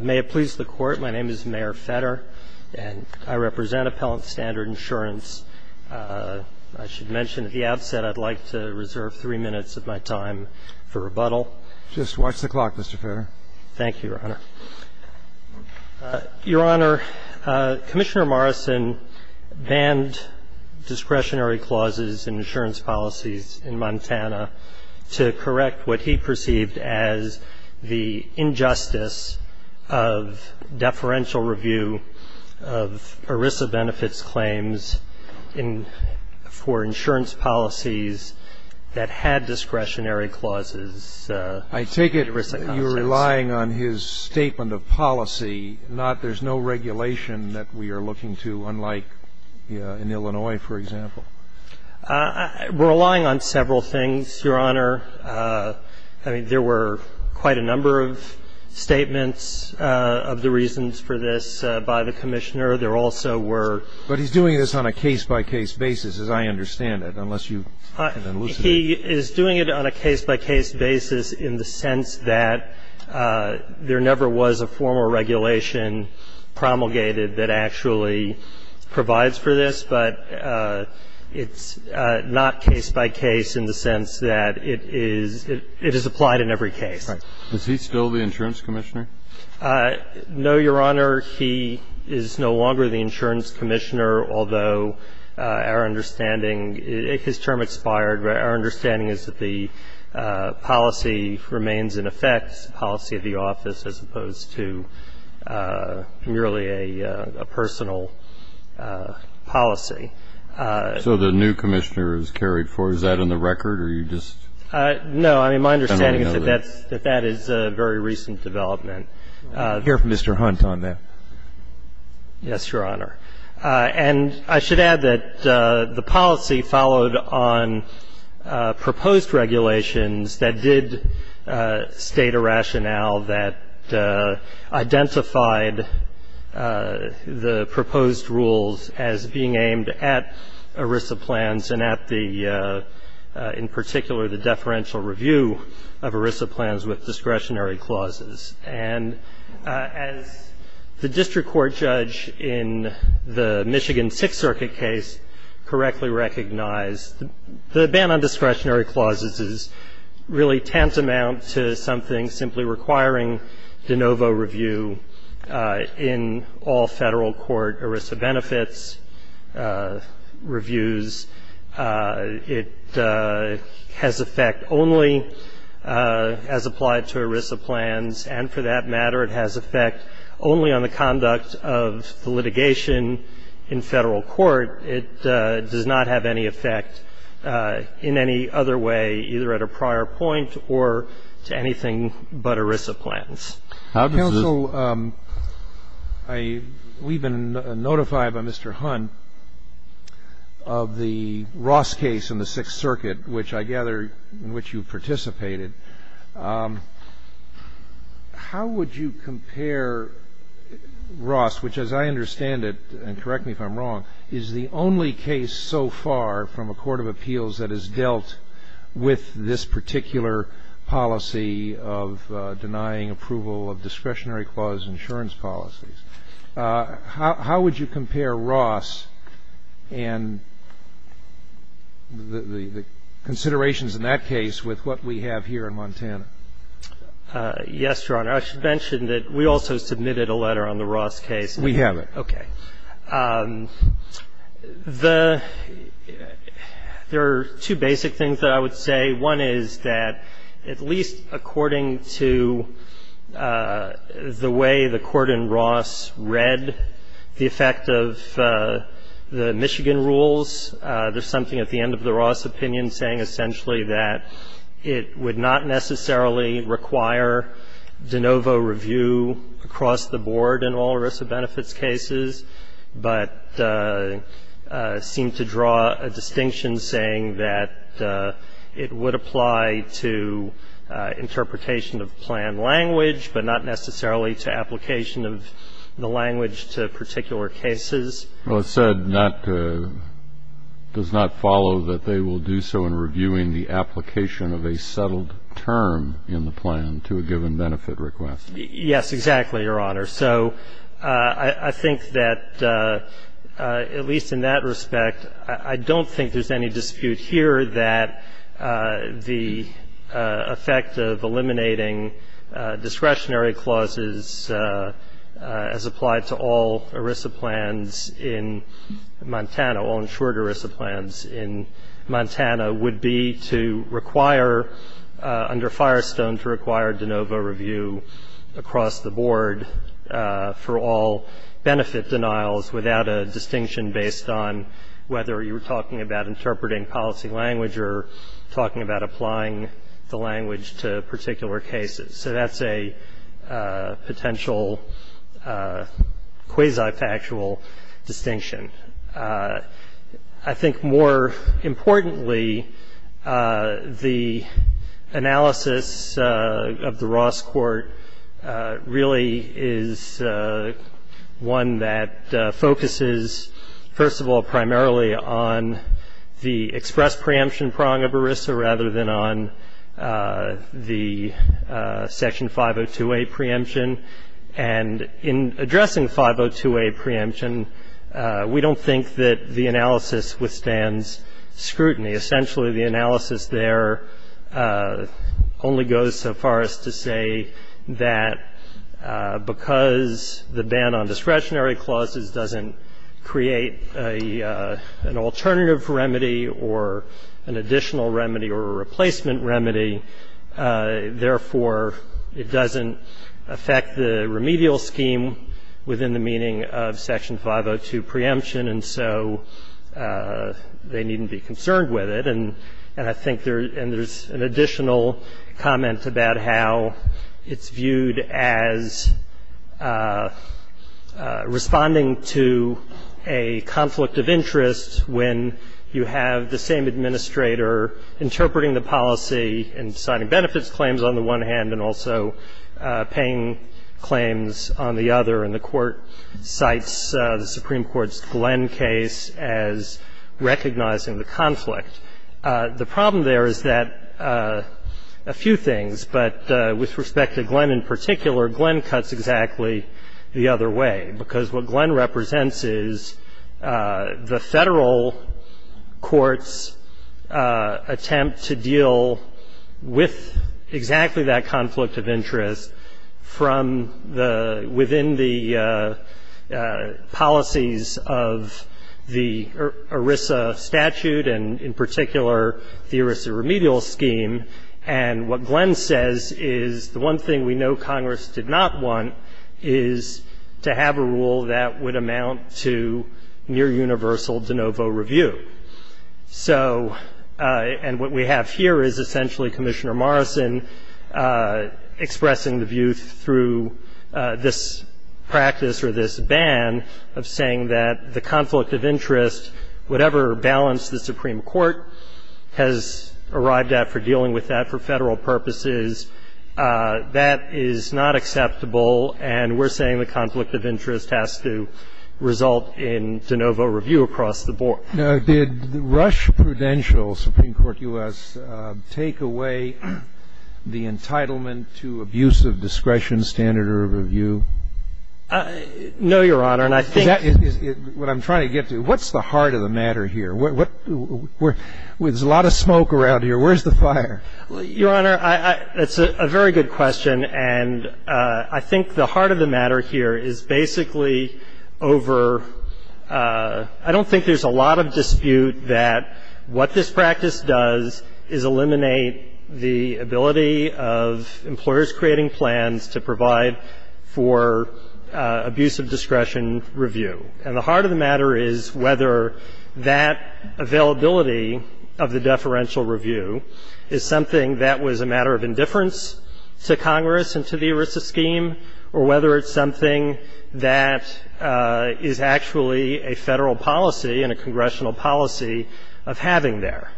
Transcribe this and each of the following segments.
May it please the Court, my name is Mayor Fetter, and I represent Appellant Standard Insurance. I should mention at the outset I'd like to reserve three minutes of my time for rebuttal. Just watch the clock, Mr. Fetter. Thank you, Your Honor. Your Honor, Commissioner Morrison banned discretionary clauses in insurance policies in Montana to correct what he perceived as the injustice of deferential review of ERISA benefits claims for insurance policies that had discretionary clauses. I take it you're relying on his statement of policy, not there's no regulation that we are looking to unlike in Illinois, for example. We're relying on several things, Your Honor. I mean, there were quite a number of statements of the reasons for this by the Commissioner. There also were ---- But he's doing this on a case-by-case basis, as I understand it, unless you can elucidate. He is doing it on a case-by-case basis in the sense that there never was a formal regulation promulgated that actually provides for this, but it's not case-by-case in the sense that it is ---- it is applied in every case. Is he still the insurance commissioner? No, Your Honor. He is no longer the insurance commissioner, although our understanding ---- his term expired, but our understanding is that the policy remains in effect, policy of the office, as opposed to merely a personal policy. So the new commissioner is carried forward. Is that on the record, or are you just ---- No. I mean, my understanding is that that is a very recent development. Hear from Mr. Hunt on that. Yes, Your Honor. And I should add that the policy followed on proposed regulations that did state a rationale that identified the proposed rules as being aimed at ERISA plans and at the ---- in particular, the deferential review of ERISA plans with discretionary clauses. And as the district court judge in the Michigan Sixth Circuit case correctly recognized, the ban on discretionary clauses is really tantamount to something simply requiring de novo review in all Federal court ERISA benefits reviews. It has effect only as applied to ERISA plans, and for that matter, it has effect only on the conduct of the litigation in Federal court. It does not have any effect in any other way, either at a prior point or to anything but ERISA plans. Counsel, we've been notified by Mr. Hunt of the Ross case in the Sixth Circuit, which I gather in which you participated. How would you compare Ross, which as I understand it, and correct me if I'm wrong, is the only case so far from a court of appeals that has dealt with this particular policy of denying approval of discretionary clause insurance policies? How would you compare Ross and the considerations in that case with what we have here in Montana? Yes, Your Honor. I should mention that we also submitted a letter on the Ross case. We have it. Okay. The ---- there are two basic things that I would say. One is that at least according to the way the court in Ross read the effect of the Michigan rules, there's something at the end of the Ross opinion saying essentially that it would not necessarily require de novo review across the board in all ERISA cases. It would apply to interpretation of plan language, but not necessarily to application of the language to particular cases. Well, it said not to ---- does not follow that they will do so in reviewing the application of a settled term in the plan to a given benefit request. Yes, exactly, Your Honor. So I think that at least in that respect, I don't think there's any dispute here that the effect of eliminating discretionary clauses as applied to all ERISA plans in Montana, all insured ERISA plans in Montana, would be to require under Firestone to require de novo review for all benefit denials without a distinction based on whether you're talking about interpreting policy language or talking about applying the language to particular cases. So that's a potential quasi-factual distinction. I think more importantly, the analysis of the Ross court really is a question of one that focuses, first of all, primarily on the express preemption prong of ERISA rather than on the Section 502A preemption. And in addressing the 502A preemption, we don't think that the analysis withstands scrutiny. Essentially, the analysis there only goes so far as to say that because there is no discretionary clause, there is no discretionary clause, the ban on discretionary clauses doesn't create an alternative remedy or an additional remedy or a replacement remedy, therefore, it doesn't affect the remedial scheme within the meaning of Section 502 preemption, and so they needn't be concerned with it. And I think there's an additional comment about how it's viewed as responding to a conflict of interest when you have the same administrator interpreting the policy and signing benefits claims on the one hand, and also paying claims on the other, and the court cites the Supreme Court's Glenn case as recognizing the The problem there is that a few things, but with respect to Glenn in particular, Glenn cuts exactly the other way, because what Glenn represents is the Federal Court's attempt to deal with exactly that conflict of interest from the – within the policies of the ERISA statute, and in particular, the ERISA remedial scheme. And what Glenn says is the one thing we know Congress did not want is to have a rule that would amount to near universal de novo review. So – and what we have here is essentially Commissioner Morrison expressing the view through this practice or this ban of saying that the conflict of interest, whatever balance the Supreme Court has arrived at for dealing with that for Federal purposes, that is not acceptable, and we're saying the conflict of interest has to result in de novo review across the board. Now, did Rush Prudential, Supreme Court U.S., take away the entitlement to abuse of discretion, standard of review? No, Your Honor, and I think – That is what I'm trying to get to. What's the heart of the matter here? There's a lot of smoke around here. Where's the fire? Your Honor, it's a very good question, and I think the heart of the matter here is basically over – I don't think there's a lot of dispute that what this practice does is eliminate the ability of employers creating plans to provide for abuse of discretion review. And the heart of the matter is whether that availability of the deferential review is something that was a matter of indifference to Congress and to the ERISA scheme, or whether it's something that is actually a Federal policy and a congressional policy of having there.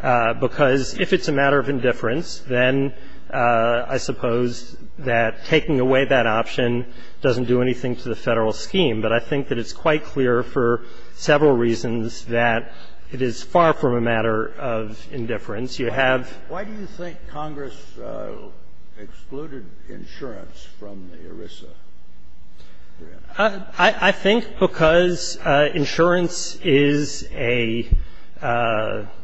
Because if it's a matter of indifference, then I suppose that taking away that option doesn't do anything to the Federal scheme. But I think that it's quite clear for several reasons that it is far from a matter of indifference. You have – Why do you think Congress excluded insurance from the ERISA? I think because insurance is a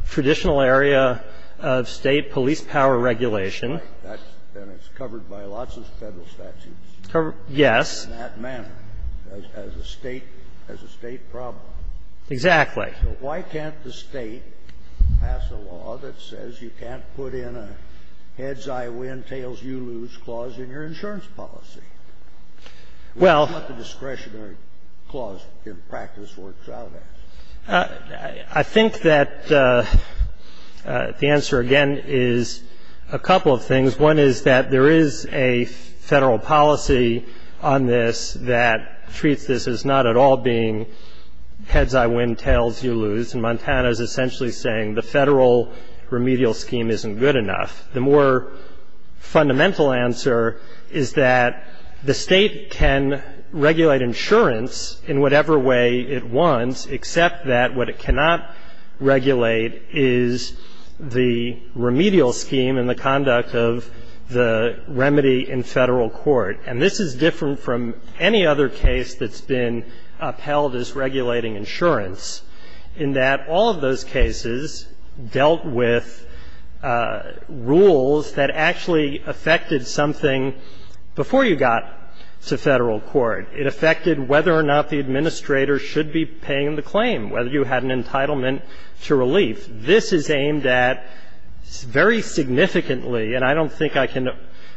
traditional area of State police power regulation. That's right. And it's covered by lots of Federal statutes. Yes. And in that manner, as a State problem. Exactly. So why can't the State pass a law that says you can't put in a heads-I-win, tails-you-lose clause in your insurance policy? Well, I think that the answer, again, is a couple of things. One is that there is a Federal policy on this that treats this as not at all being a case of heads-I-win, tails-you-lose. And Montana is essentially saying the Federal remedial scheme isn't good enough. The more fundamental answer is that the State can regulate insurance in whatever way it wants, except that what it cannot regulate is the remedial scheme and the conduct of the remedy in Federal court. And this is different from any other case that's been upheld as regulating insurance in that all of those cases dealt with rules that actually affected something before you got to Federal court. It affected whether or not the administrator should be paying the claim, whether you had an entitlement to relief. This is aimed at very significantly, and I don't think I can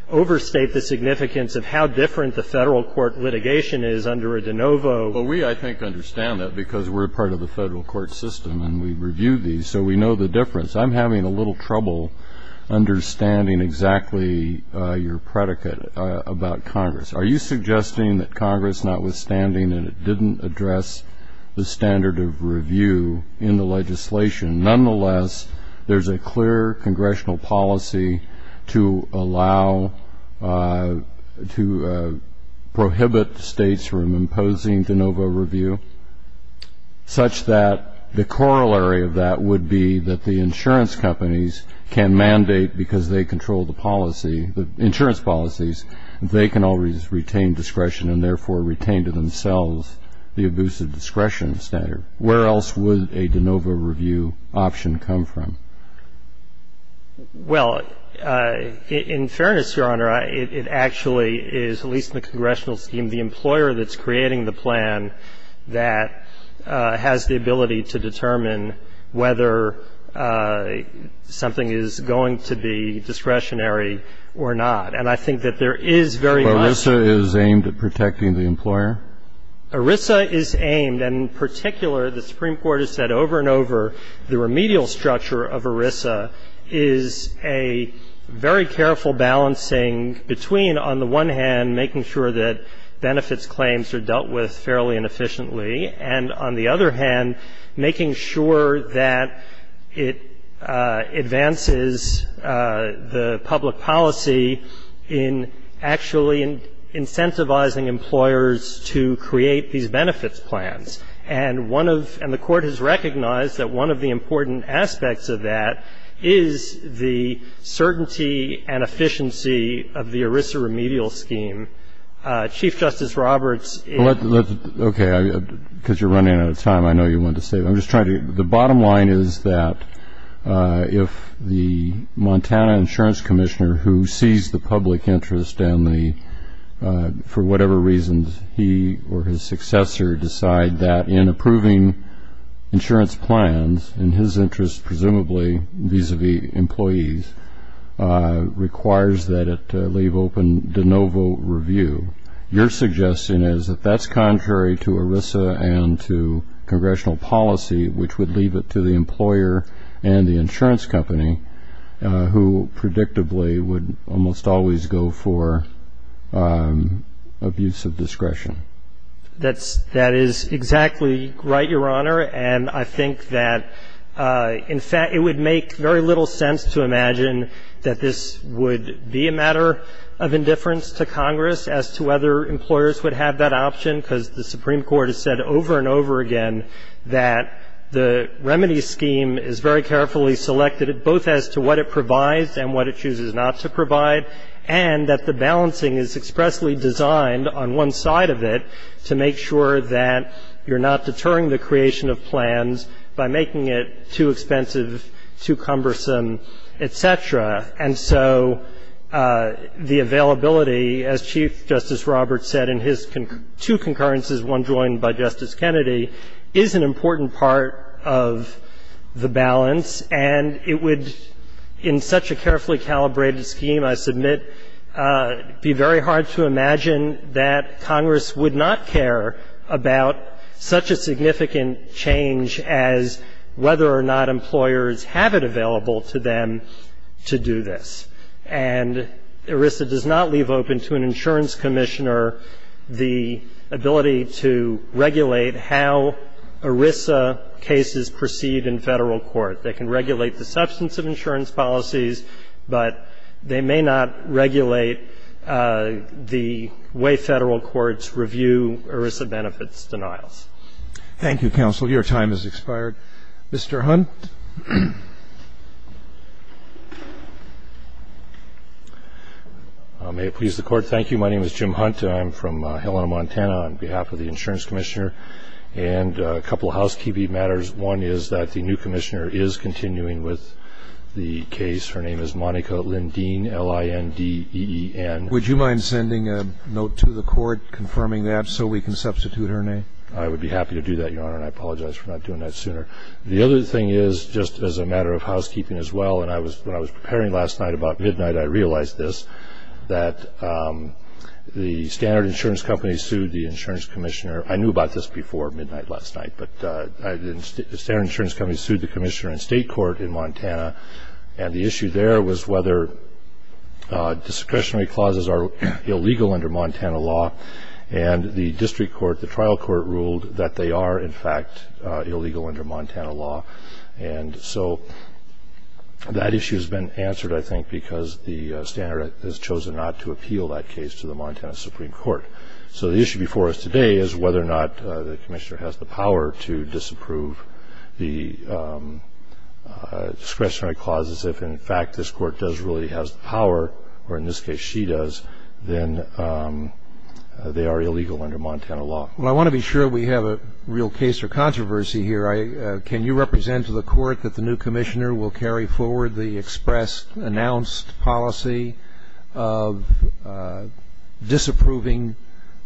overstate the significance of how different the Federal court litigation is under a de novo. Well, we, I think, understand that because we're part of the Federal court system and we've reviewed these, so we know the difference. I'm having a little trouble understanding exactly your predicate about Congress. Are you suggesting that Congress, notwithstanding that it didn't address the standard of review in the legislation, nonetheless, there's a clear Congressional policy to allow, to prohibit States from imposing de novo review, such that the corollary of that would be that the insurance companies can mandate, because they control the policy, the insurance policies, they can always retain discretion and, therefore, retain to themselves the abusive discretion standard? Where else would a de novo review option come from? Well, in fairness, Your Honor, it actually is, at least in the Congressional scheme, the employer that's creating the plan that has the ability to determine whether something is going to be discretionary or not. And I think that there is very much of that. But ERISA is aimed at protecting the employer? ERISA is aimed, and in particular, the Supreme Court has said over and over, the remedial structure of ERISA is a very careful balancing between, on the one hand, making sure that benefits claims are dealt with fairly and efficiently, and, on the other hand, making sure that it advances the public policy in actually incentivizing employers to create these benefits plans. And the Court has recognized that one of the important aspects of that is the certainty and efficiency of the ERISA remedial scheme. Chief Justice Roberts ---- Okay. Because you're running out of time, I know you wanted to say it. I'm just trying to ---- The bottom line is that if the Montana Insurance Commissioner, who sees the public that in approving insurance plans, in his interest, presumably vis-a-vis employees, requires that it leave open de novo review, your suggestion is that that's contrary to ERISA and to congressional policy, which would leave it to the employer and the insurance company, who predictably would almost always go for abuse of discretion. That is exactly right, Your Honor. And I think that, in fact, it would make very little sense to imagine that this would be a matter of indifference to Congress as to whether employers would have that option, because the Supreme Court has said over and over again that the remedy scheme is very carefully selected, both as to what it provides and what it chooses not to provide, and that the balancing is expressly designed on one side of it to make sure that you're not deterring the creation of plans by making it too expensive, too cumbersome, et cetera. And so the availability, as Chief Justice Roberts said in his two concurrences, one joined by Justice Kennedy, is an important part of the balance, and it would be, in such a carefully calibrated scheme, I submit, be very hard to imagine that Congress would not care about such a significant change as whether or not employers have it available to them to do this. And ERISA does not leave open to an insurance commissioner the ability to regulate how ERISA cases proceed in Federal court. They can regulate the substance of insurance policies, but they may not regulate the way Federal courts review ERISA benefits denials. Thank you, counsel. Your time has expired. Mr. Hunt. May it please the Court, thank you. My name is Jim Hunt. I'm from Helena, Montana, on behalf of the insurance commissioner. And a couple of housekeeping matters. One is that the new commissioner is continuing with the case. Her name is Monica Lindeen, L-I-N-D-E-E-N. Would you mind sending a note to the Court confirming that so we can substitute her name? I would be happy to do that, Your Honor, and I apologize for not doing that sooner. The other thing is, just as a matter of housekeeping as well, and when I was preparing last night about midnight, I realized this, that the standard insurance company sued the insurance commissioner. I knew about this before midnight last night, but the standard insurance company sued the commissioner in state court in Montana. And the issue there was whether discretionary clauses are illegal under Montana law. And the district court, the trial court, ruled that they are, in fact, illegal under Montana law. And so that issue has been answered, I think, because the standard has chosen not to appeal that case to the Montana Supreme Court. So the issue before us today is whether or not the commissioner has the power to disapprove the discretionary clauses. If, in fact, this Court does really has the power, or in this case she does, then they are illegal under Montana law. Well, I want to be sure we have a real case or controversy here. Can you represent to the Court that the new commissioner will carry forward the policy of disapproving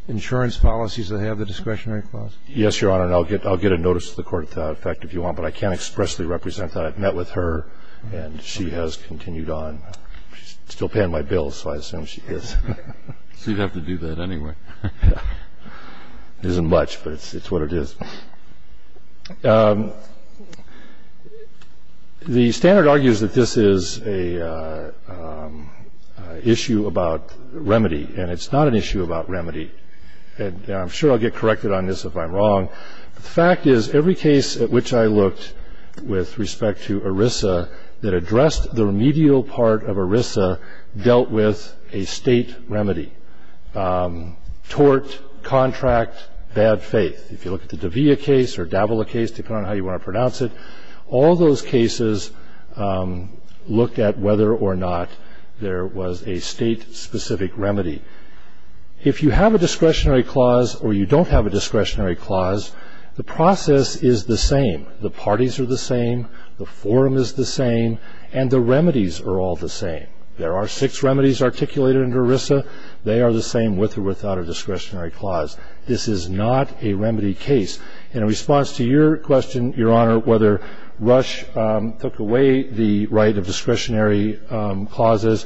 insurance policies that have the discretionary clause? Yes, Your Honor, and I'll get a notice to the Court of that effect if you want. But I can't expressly represent that. I've met with her, and she has continued on. She's still paying my bills, so I assume she is. So you'd have to do that anyway. It isn't much, but it's what it is. The standard argues that this is an issue about remedy, and it's not an issue about remedy. And I'm sure I'll get corrected on this if I'm wrong. The fact is, every case at which I looked with respect to ERISA that addressed the remedial part of ERISA dealt with a state remedy. Tort, contract, bad faith. If you look at the De'Vea case or Davila case, depending on how you want to pronounce it, all those cases looked at whether or not there was a state-specific remedy. If you have a discretionary clause or you don't have a discretionary clause, the process is the same. The parties are the same. The forum is the same, and the remedies are all the same. There are six remedies articulated under ERISA. They are the same with or without a discretionary clause. This is not a remedy case. In response to your question, Your Honor, whether Rush took away the right of discretionary clauses,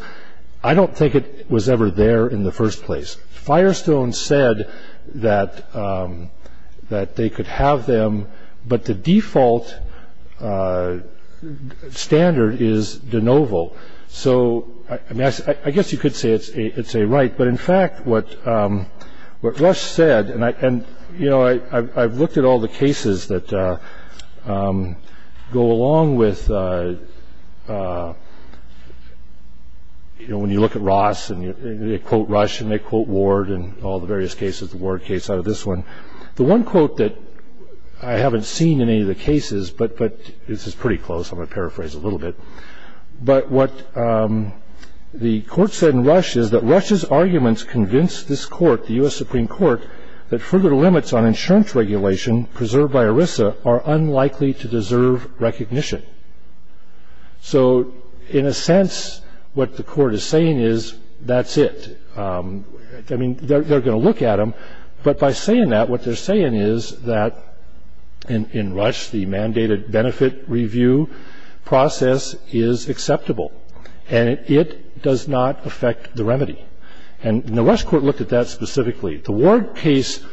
I don't think it was ever there in the first place. Firestone said that they could have them, but the default standard is de novo. So I guess you could say it's a right. But in fact, what Rush said, and, you know, I've looked at all the cases that go along with, you know, when you look at Ross and they quote Rush and they quote Ward and all the various cases, the Ward case out of this one. The one quote that I haven't seen in any of the cases, but this is pretty close, I'm going to paraphrase a little bit. But what the court said in Rush is that Rush's arguments convinced this court, the U.S. Supreme Court, that further limits on insurance regulation preserved by ERISA are unlikely to deserve recognition. So in a sense, what the court is saying is that's it. I mean, they're going to look at them, but by saying that, what they're saying is that in Rush, the mandated benefit review process is acceptable and it does not affect the remedy. And the Rush court looked at that specifically. The Ward case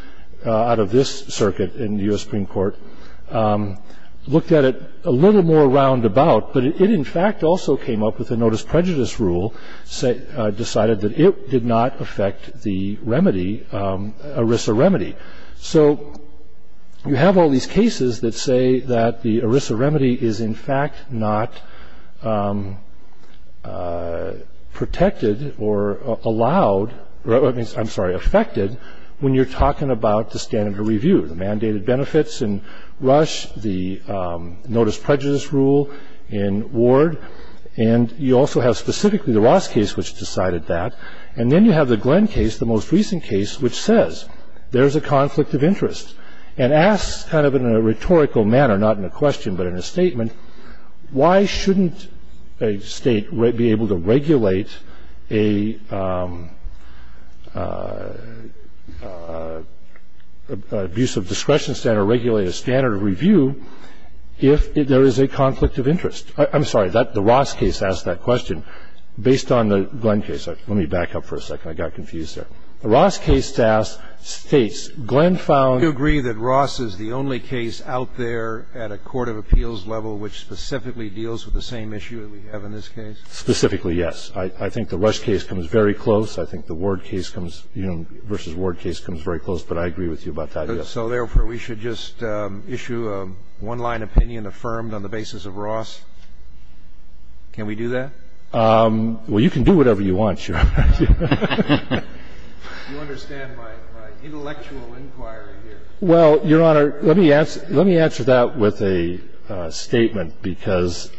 out of this circuit in the U.S. Supreme Court looked at it a little more roundabout, but it in fact also came up with a notice prejudice rule, decided that it did not affect the remedy, ERISA remedy. So you have all these cases that say that the ERISA remedy is in fact not protected or allowed, I'm sorry, affected when you're talking about the standard of review, the mandated benefits in Rush, the notice prejudice rule in Ward. And you also have specifically the Ross case which decided that. And then you have the Glenn case, the most recent case, which says there's a conflict of interest and asks kind of in a rhetorical manner, not in a question but in a statement, why shouldn't a state be able to regulate an abusive discretion standard, regulate a standard of review if there is a conflict of interest? I'm sorry, the Ross case asked that question based on the Glenn case. Let me back up for a second. I got confused there. The Ross case states, Glenn found- Do you agree that Ross is the only case out there at a court of appeals level which specifically deals with the same issue that we have in this case? Specifically, yes. I think the Rush case comes very close. I think the Ward case comes, you know, versus Ward case comes very close. But I agree with you about that, yes. So therefore, we should just issue a one-line opinion affirmed on the basis of Ross? Can we do that? Well, you can do whatever you want, Your Honor. You understand my intellectual inquiry here. Well, Your Honor, let me answer that with a statement, because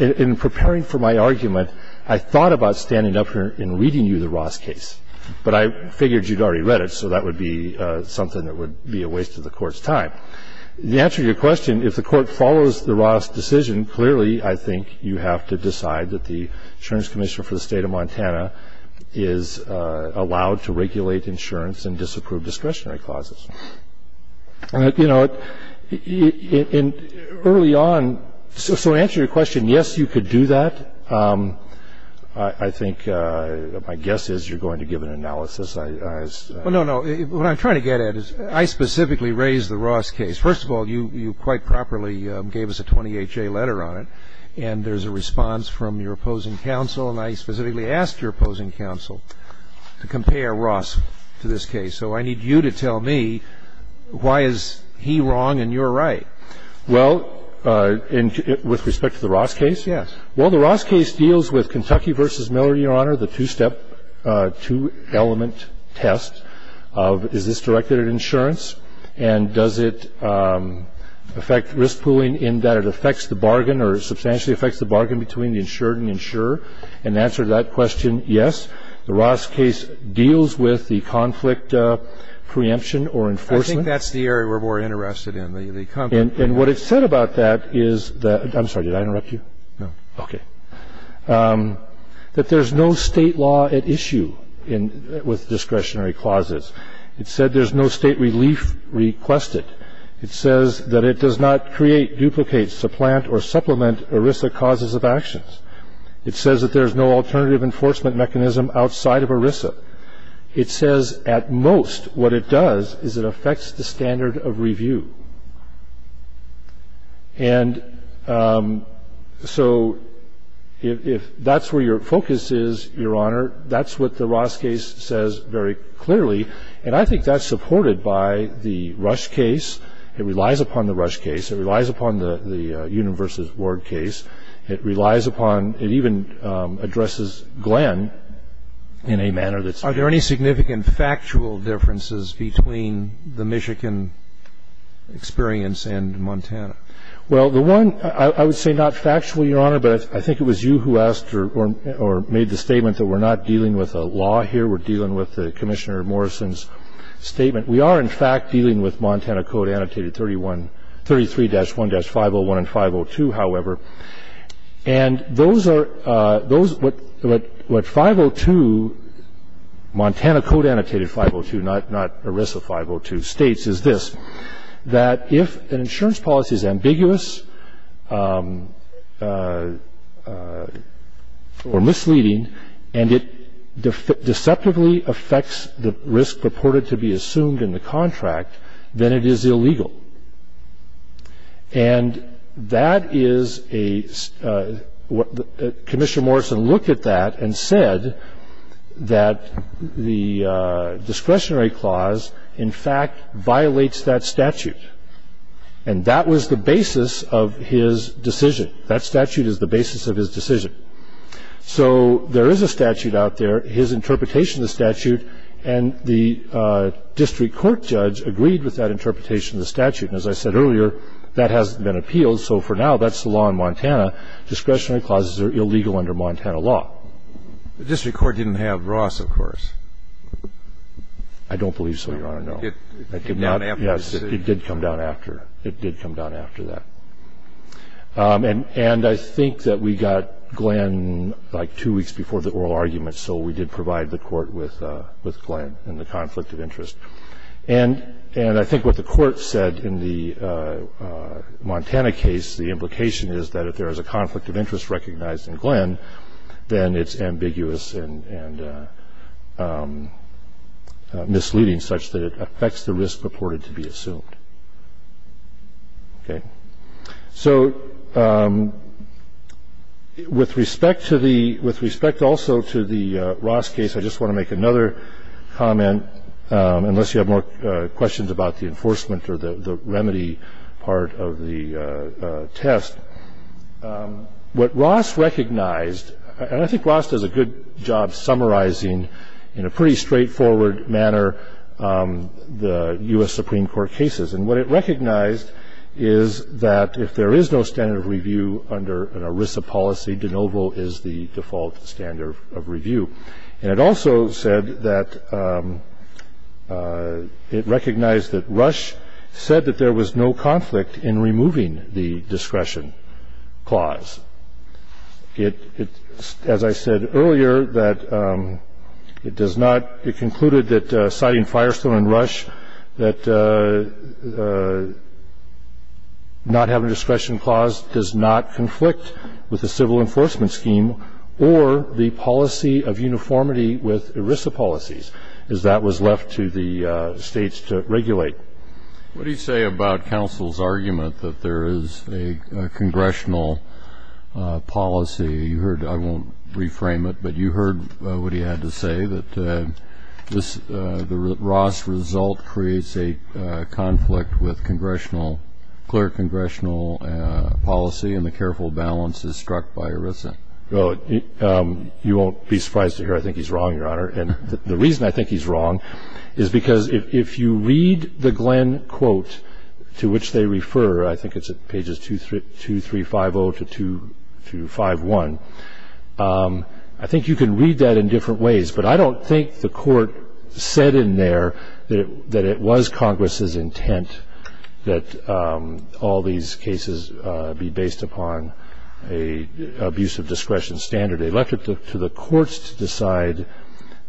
in preparing for my argument, I thought about standing up here and reading you the Ross case. But I figured you'd already read it, so that would be something that would be a waste of the Court's time. The answer to your question, if the Court follows the Ross decision, clearly, I think you have to decide that the insurance commissioner for the State of Montana is allowed to regulate insurance in disapproved discretionary clauses. You know, early on, so to answer your question, yes, you could do that. I think my guess is you're going to give an analysis. Well, no, no. What I'm trying to get at is I specifically raised the Ross case. First of all, you quite properly gave us a 20HA letter on it, and there's a response from your opposing counsel, and I specifically asked your opposing counsel to compare Ross to this case. So I need you to tell me why is he wrong and you're right. Well, with respect to the Ross case? Yes. Well, the Ross case deals with Kentucky v. Miller, Your Honor, the two-step, two-element test of is this directed at insurance and does it affect risk pooling in that it affects the bargain or substantially affects the bargain between the insured and insurer? And the answer to that question, yes, the Ross case deals with the conflict preemption or enforcement. I think that's the area we're more interested in, the conflict. And what it said about that is that – I'm sorry, did I interrupt you? No. Okay. That there's no state law at issue with discretionary clauses. It said there's no state relief requested. It says that it does not create, duplicate, supplant, or supplement ERISA causes of actions. It says that there's no alternative enforcement mechanism outside of ERISA. It says at most what it does is it affects the standard of review. And so if that's where your focus is, Your Honor, that's what the Ross case says very clearly, and I think that's supported by the Rush case. It relies upon the Rush case. It relies upon the Union v. Ward case. It relies upon – it even addresses Glenn in a manner that's – and that's the only thing that I'm interested in. And the other thing that's important to me is the factual differences between the Michigan experience and Montana. Well, the one – I would say not factual, Your Honor, but I think it was you who asked or made the statement that we're not dealing with a law here. We're dealing with the Commissioner Morrison's statement. We are, in fact, dealing with Montana Code Annotated 33-1-501 and 502, however. And those are – what 502 – Montana Code Annotated 502, not ERISA 502 – states is this, that if an insurance policy is ambiguous or misleading and it deceptively affects the risk purported to be assumed in the contract, then it is illegal. And that is a – Commissioner Morrison looked at that and said that the discretionary clause, in fact, violates that statute. And that was the basis of his decision. That statute is the basis of his decision. So there is a statute out there, his interpretation of the statute, and the district court judge agreed with that interpretation of the statute. And as I said earlier, that hasn't been appealed, so for now that's the law in Montana. Discretionary clauses are illegal under Montana law. The district court didn't have Ross, of course. I don't believe so, Your Honor, no. It did come down after. Yes, it did come down after. It did come down after that. And I think that we got Glenn like two weeks before the oral argument, so we did provide the court with Glenn and the conflict of interest. And I think what the court said in the Montana case, the implication is that if there is a conflict of interest recognized in Glenn, then it's ambiguous and misleading such that it affects the risk purported to be assumed. Okay. So with respect also to the Ross case, I just want to make another comment, unless you have more questions about the enforcement or the remedy part of the test. What Ross recognized, and I think Ross does a good job summarizing in a pretty straightforward manner the U.S. Supreme Court cases. And what it recognized is that if there is no standard of review under an ERISA policy, de novo is the default standard of review. And it also said that it recognized that Rush said that there was no conflict in removing the discretion clause. As I said earlier, it concluded that citing Firestone and Rush that not having a discretion clause does not conflict with the civil enforcement scheme or the policy of uniformity with ERISA policies, as that was left to the states to regulate. What do you say about counsel's argument that there is a congressional policy? I won't reframe it, but you heard what he had to say, that the Ross result creates a conflict with clear congressional policy and the careful balance is struck by ERISA. Well, you won't be surprised to hear I think he's wrong, Your Honor. And the reason I think he's wrong is because if you read the Glenn quote to which they refer, I think it's at pages 2350 to 251, I think you can read that in different ways. But I don't think the court said in there that it was Congress's intent that all these cases be based upon an abuse of discretion standard. They left it to the courts to decide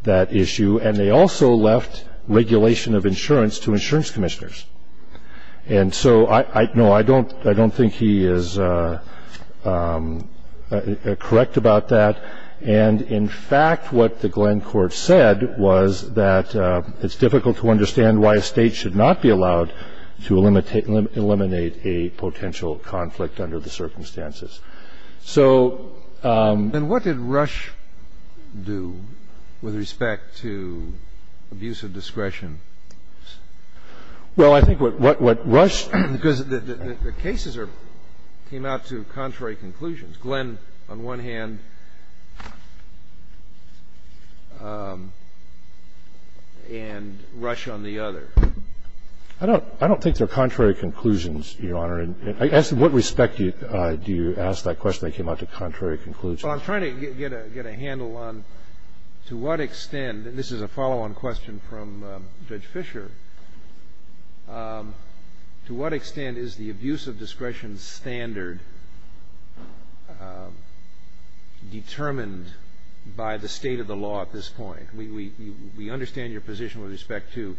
that issue, and they also left regulation of insurance to insurance commissioners. And so I don't think he is correct about that. And in fact, what the Glenn court said was that it's difficult to understand why a State should not be allowed to eliminate a potential conflict under the circumstances. So ---- And what did Rush do with respect to abuse of discretion? Well, I think what Rush ---- Because the cases came out to contrary conclusions. Glenn on one hand and Rush on the other. I don't think they're contrary conclusions, Your Honor. In what respect do you ask that question? They came out to contrary conclusions. Well, I'm trying to get a handle on to what extent, and this is a follow-on question from Judge Fisher, to what extent is the abuse of discretion standard determined by the State of the law at this point? We understand your position with respect to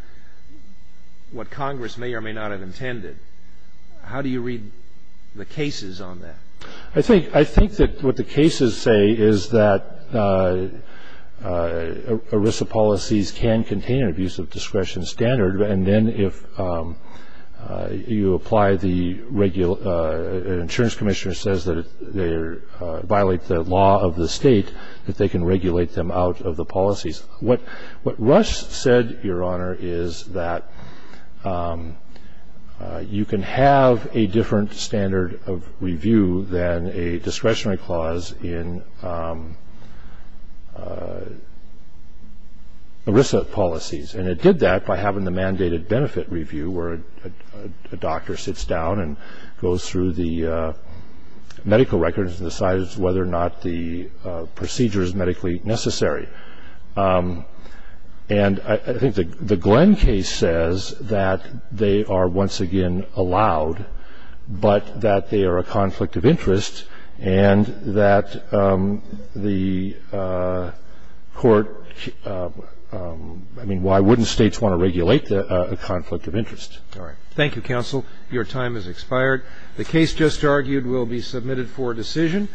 what Congress may or may not have intended. How do you read the cases on that? I think that what the cases say is that ERISA policies can contain an abuse of discretion standard, and then if you apply the insurance commissioner says that they violate the law of the State, that they can regulate them out of the policies. What Rush said, Your Honor, is that you can have a different standard of review than a discretionary clause in ERISA policies, and it did that by having the mandated benefit review where a doctor sits down and goes through the medical records and decides whether or not the procedure is medically necessary. And I think the Glenn case says that they are once again allowed, but that they are a conflict of interest and that the Court ‑‑ I mean, why wouldn't States want to regulate a conflict of interest? All right. Thank you, counsel. Your time has expired. The case just argued will be submitted for decision.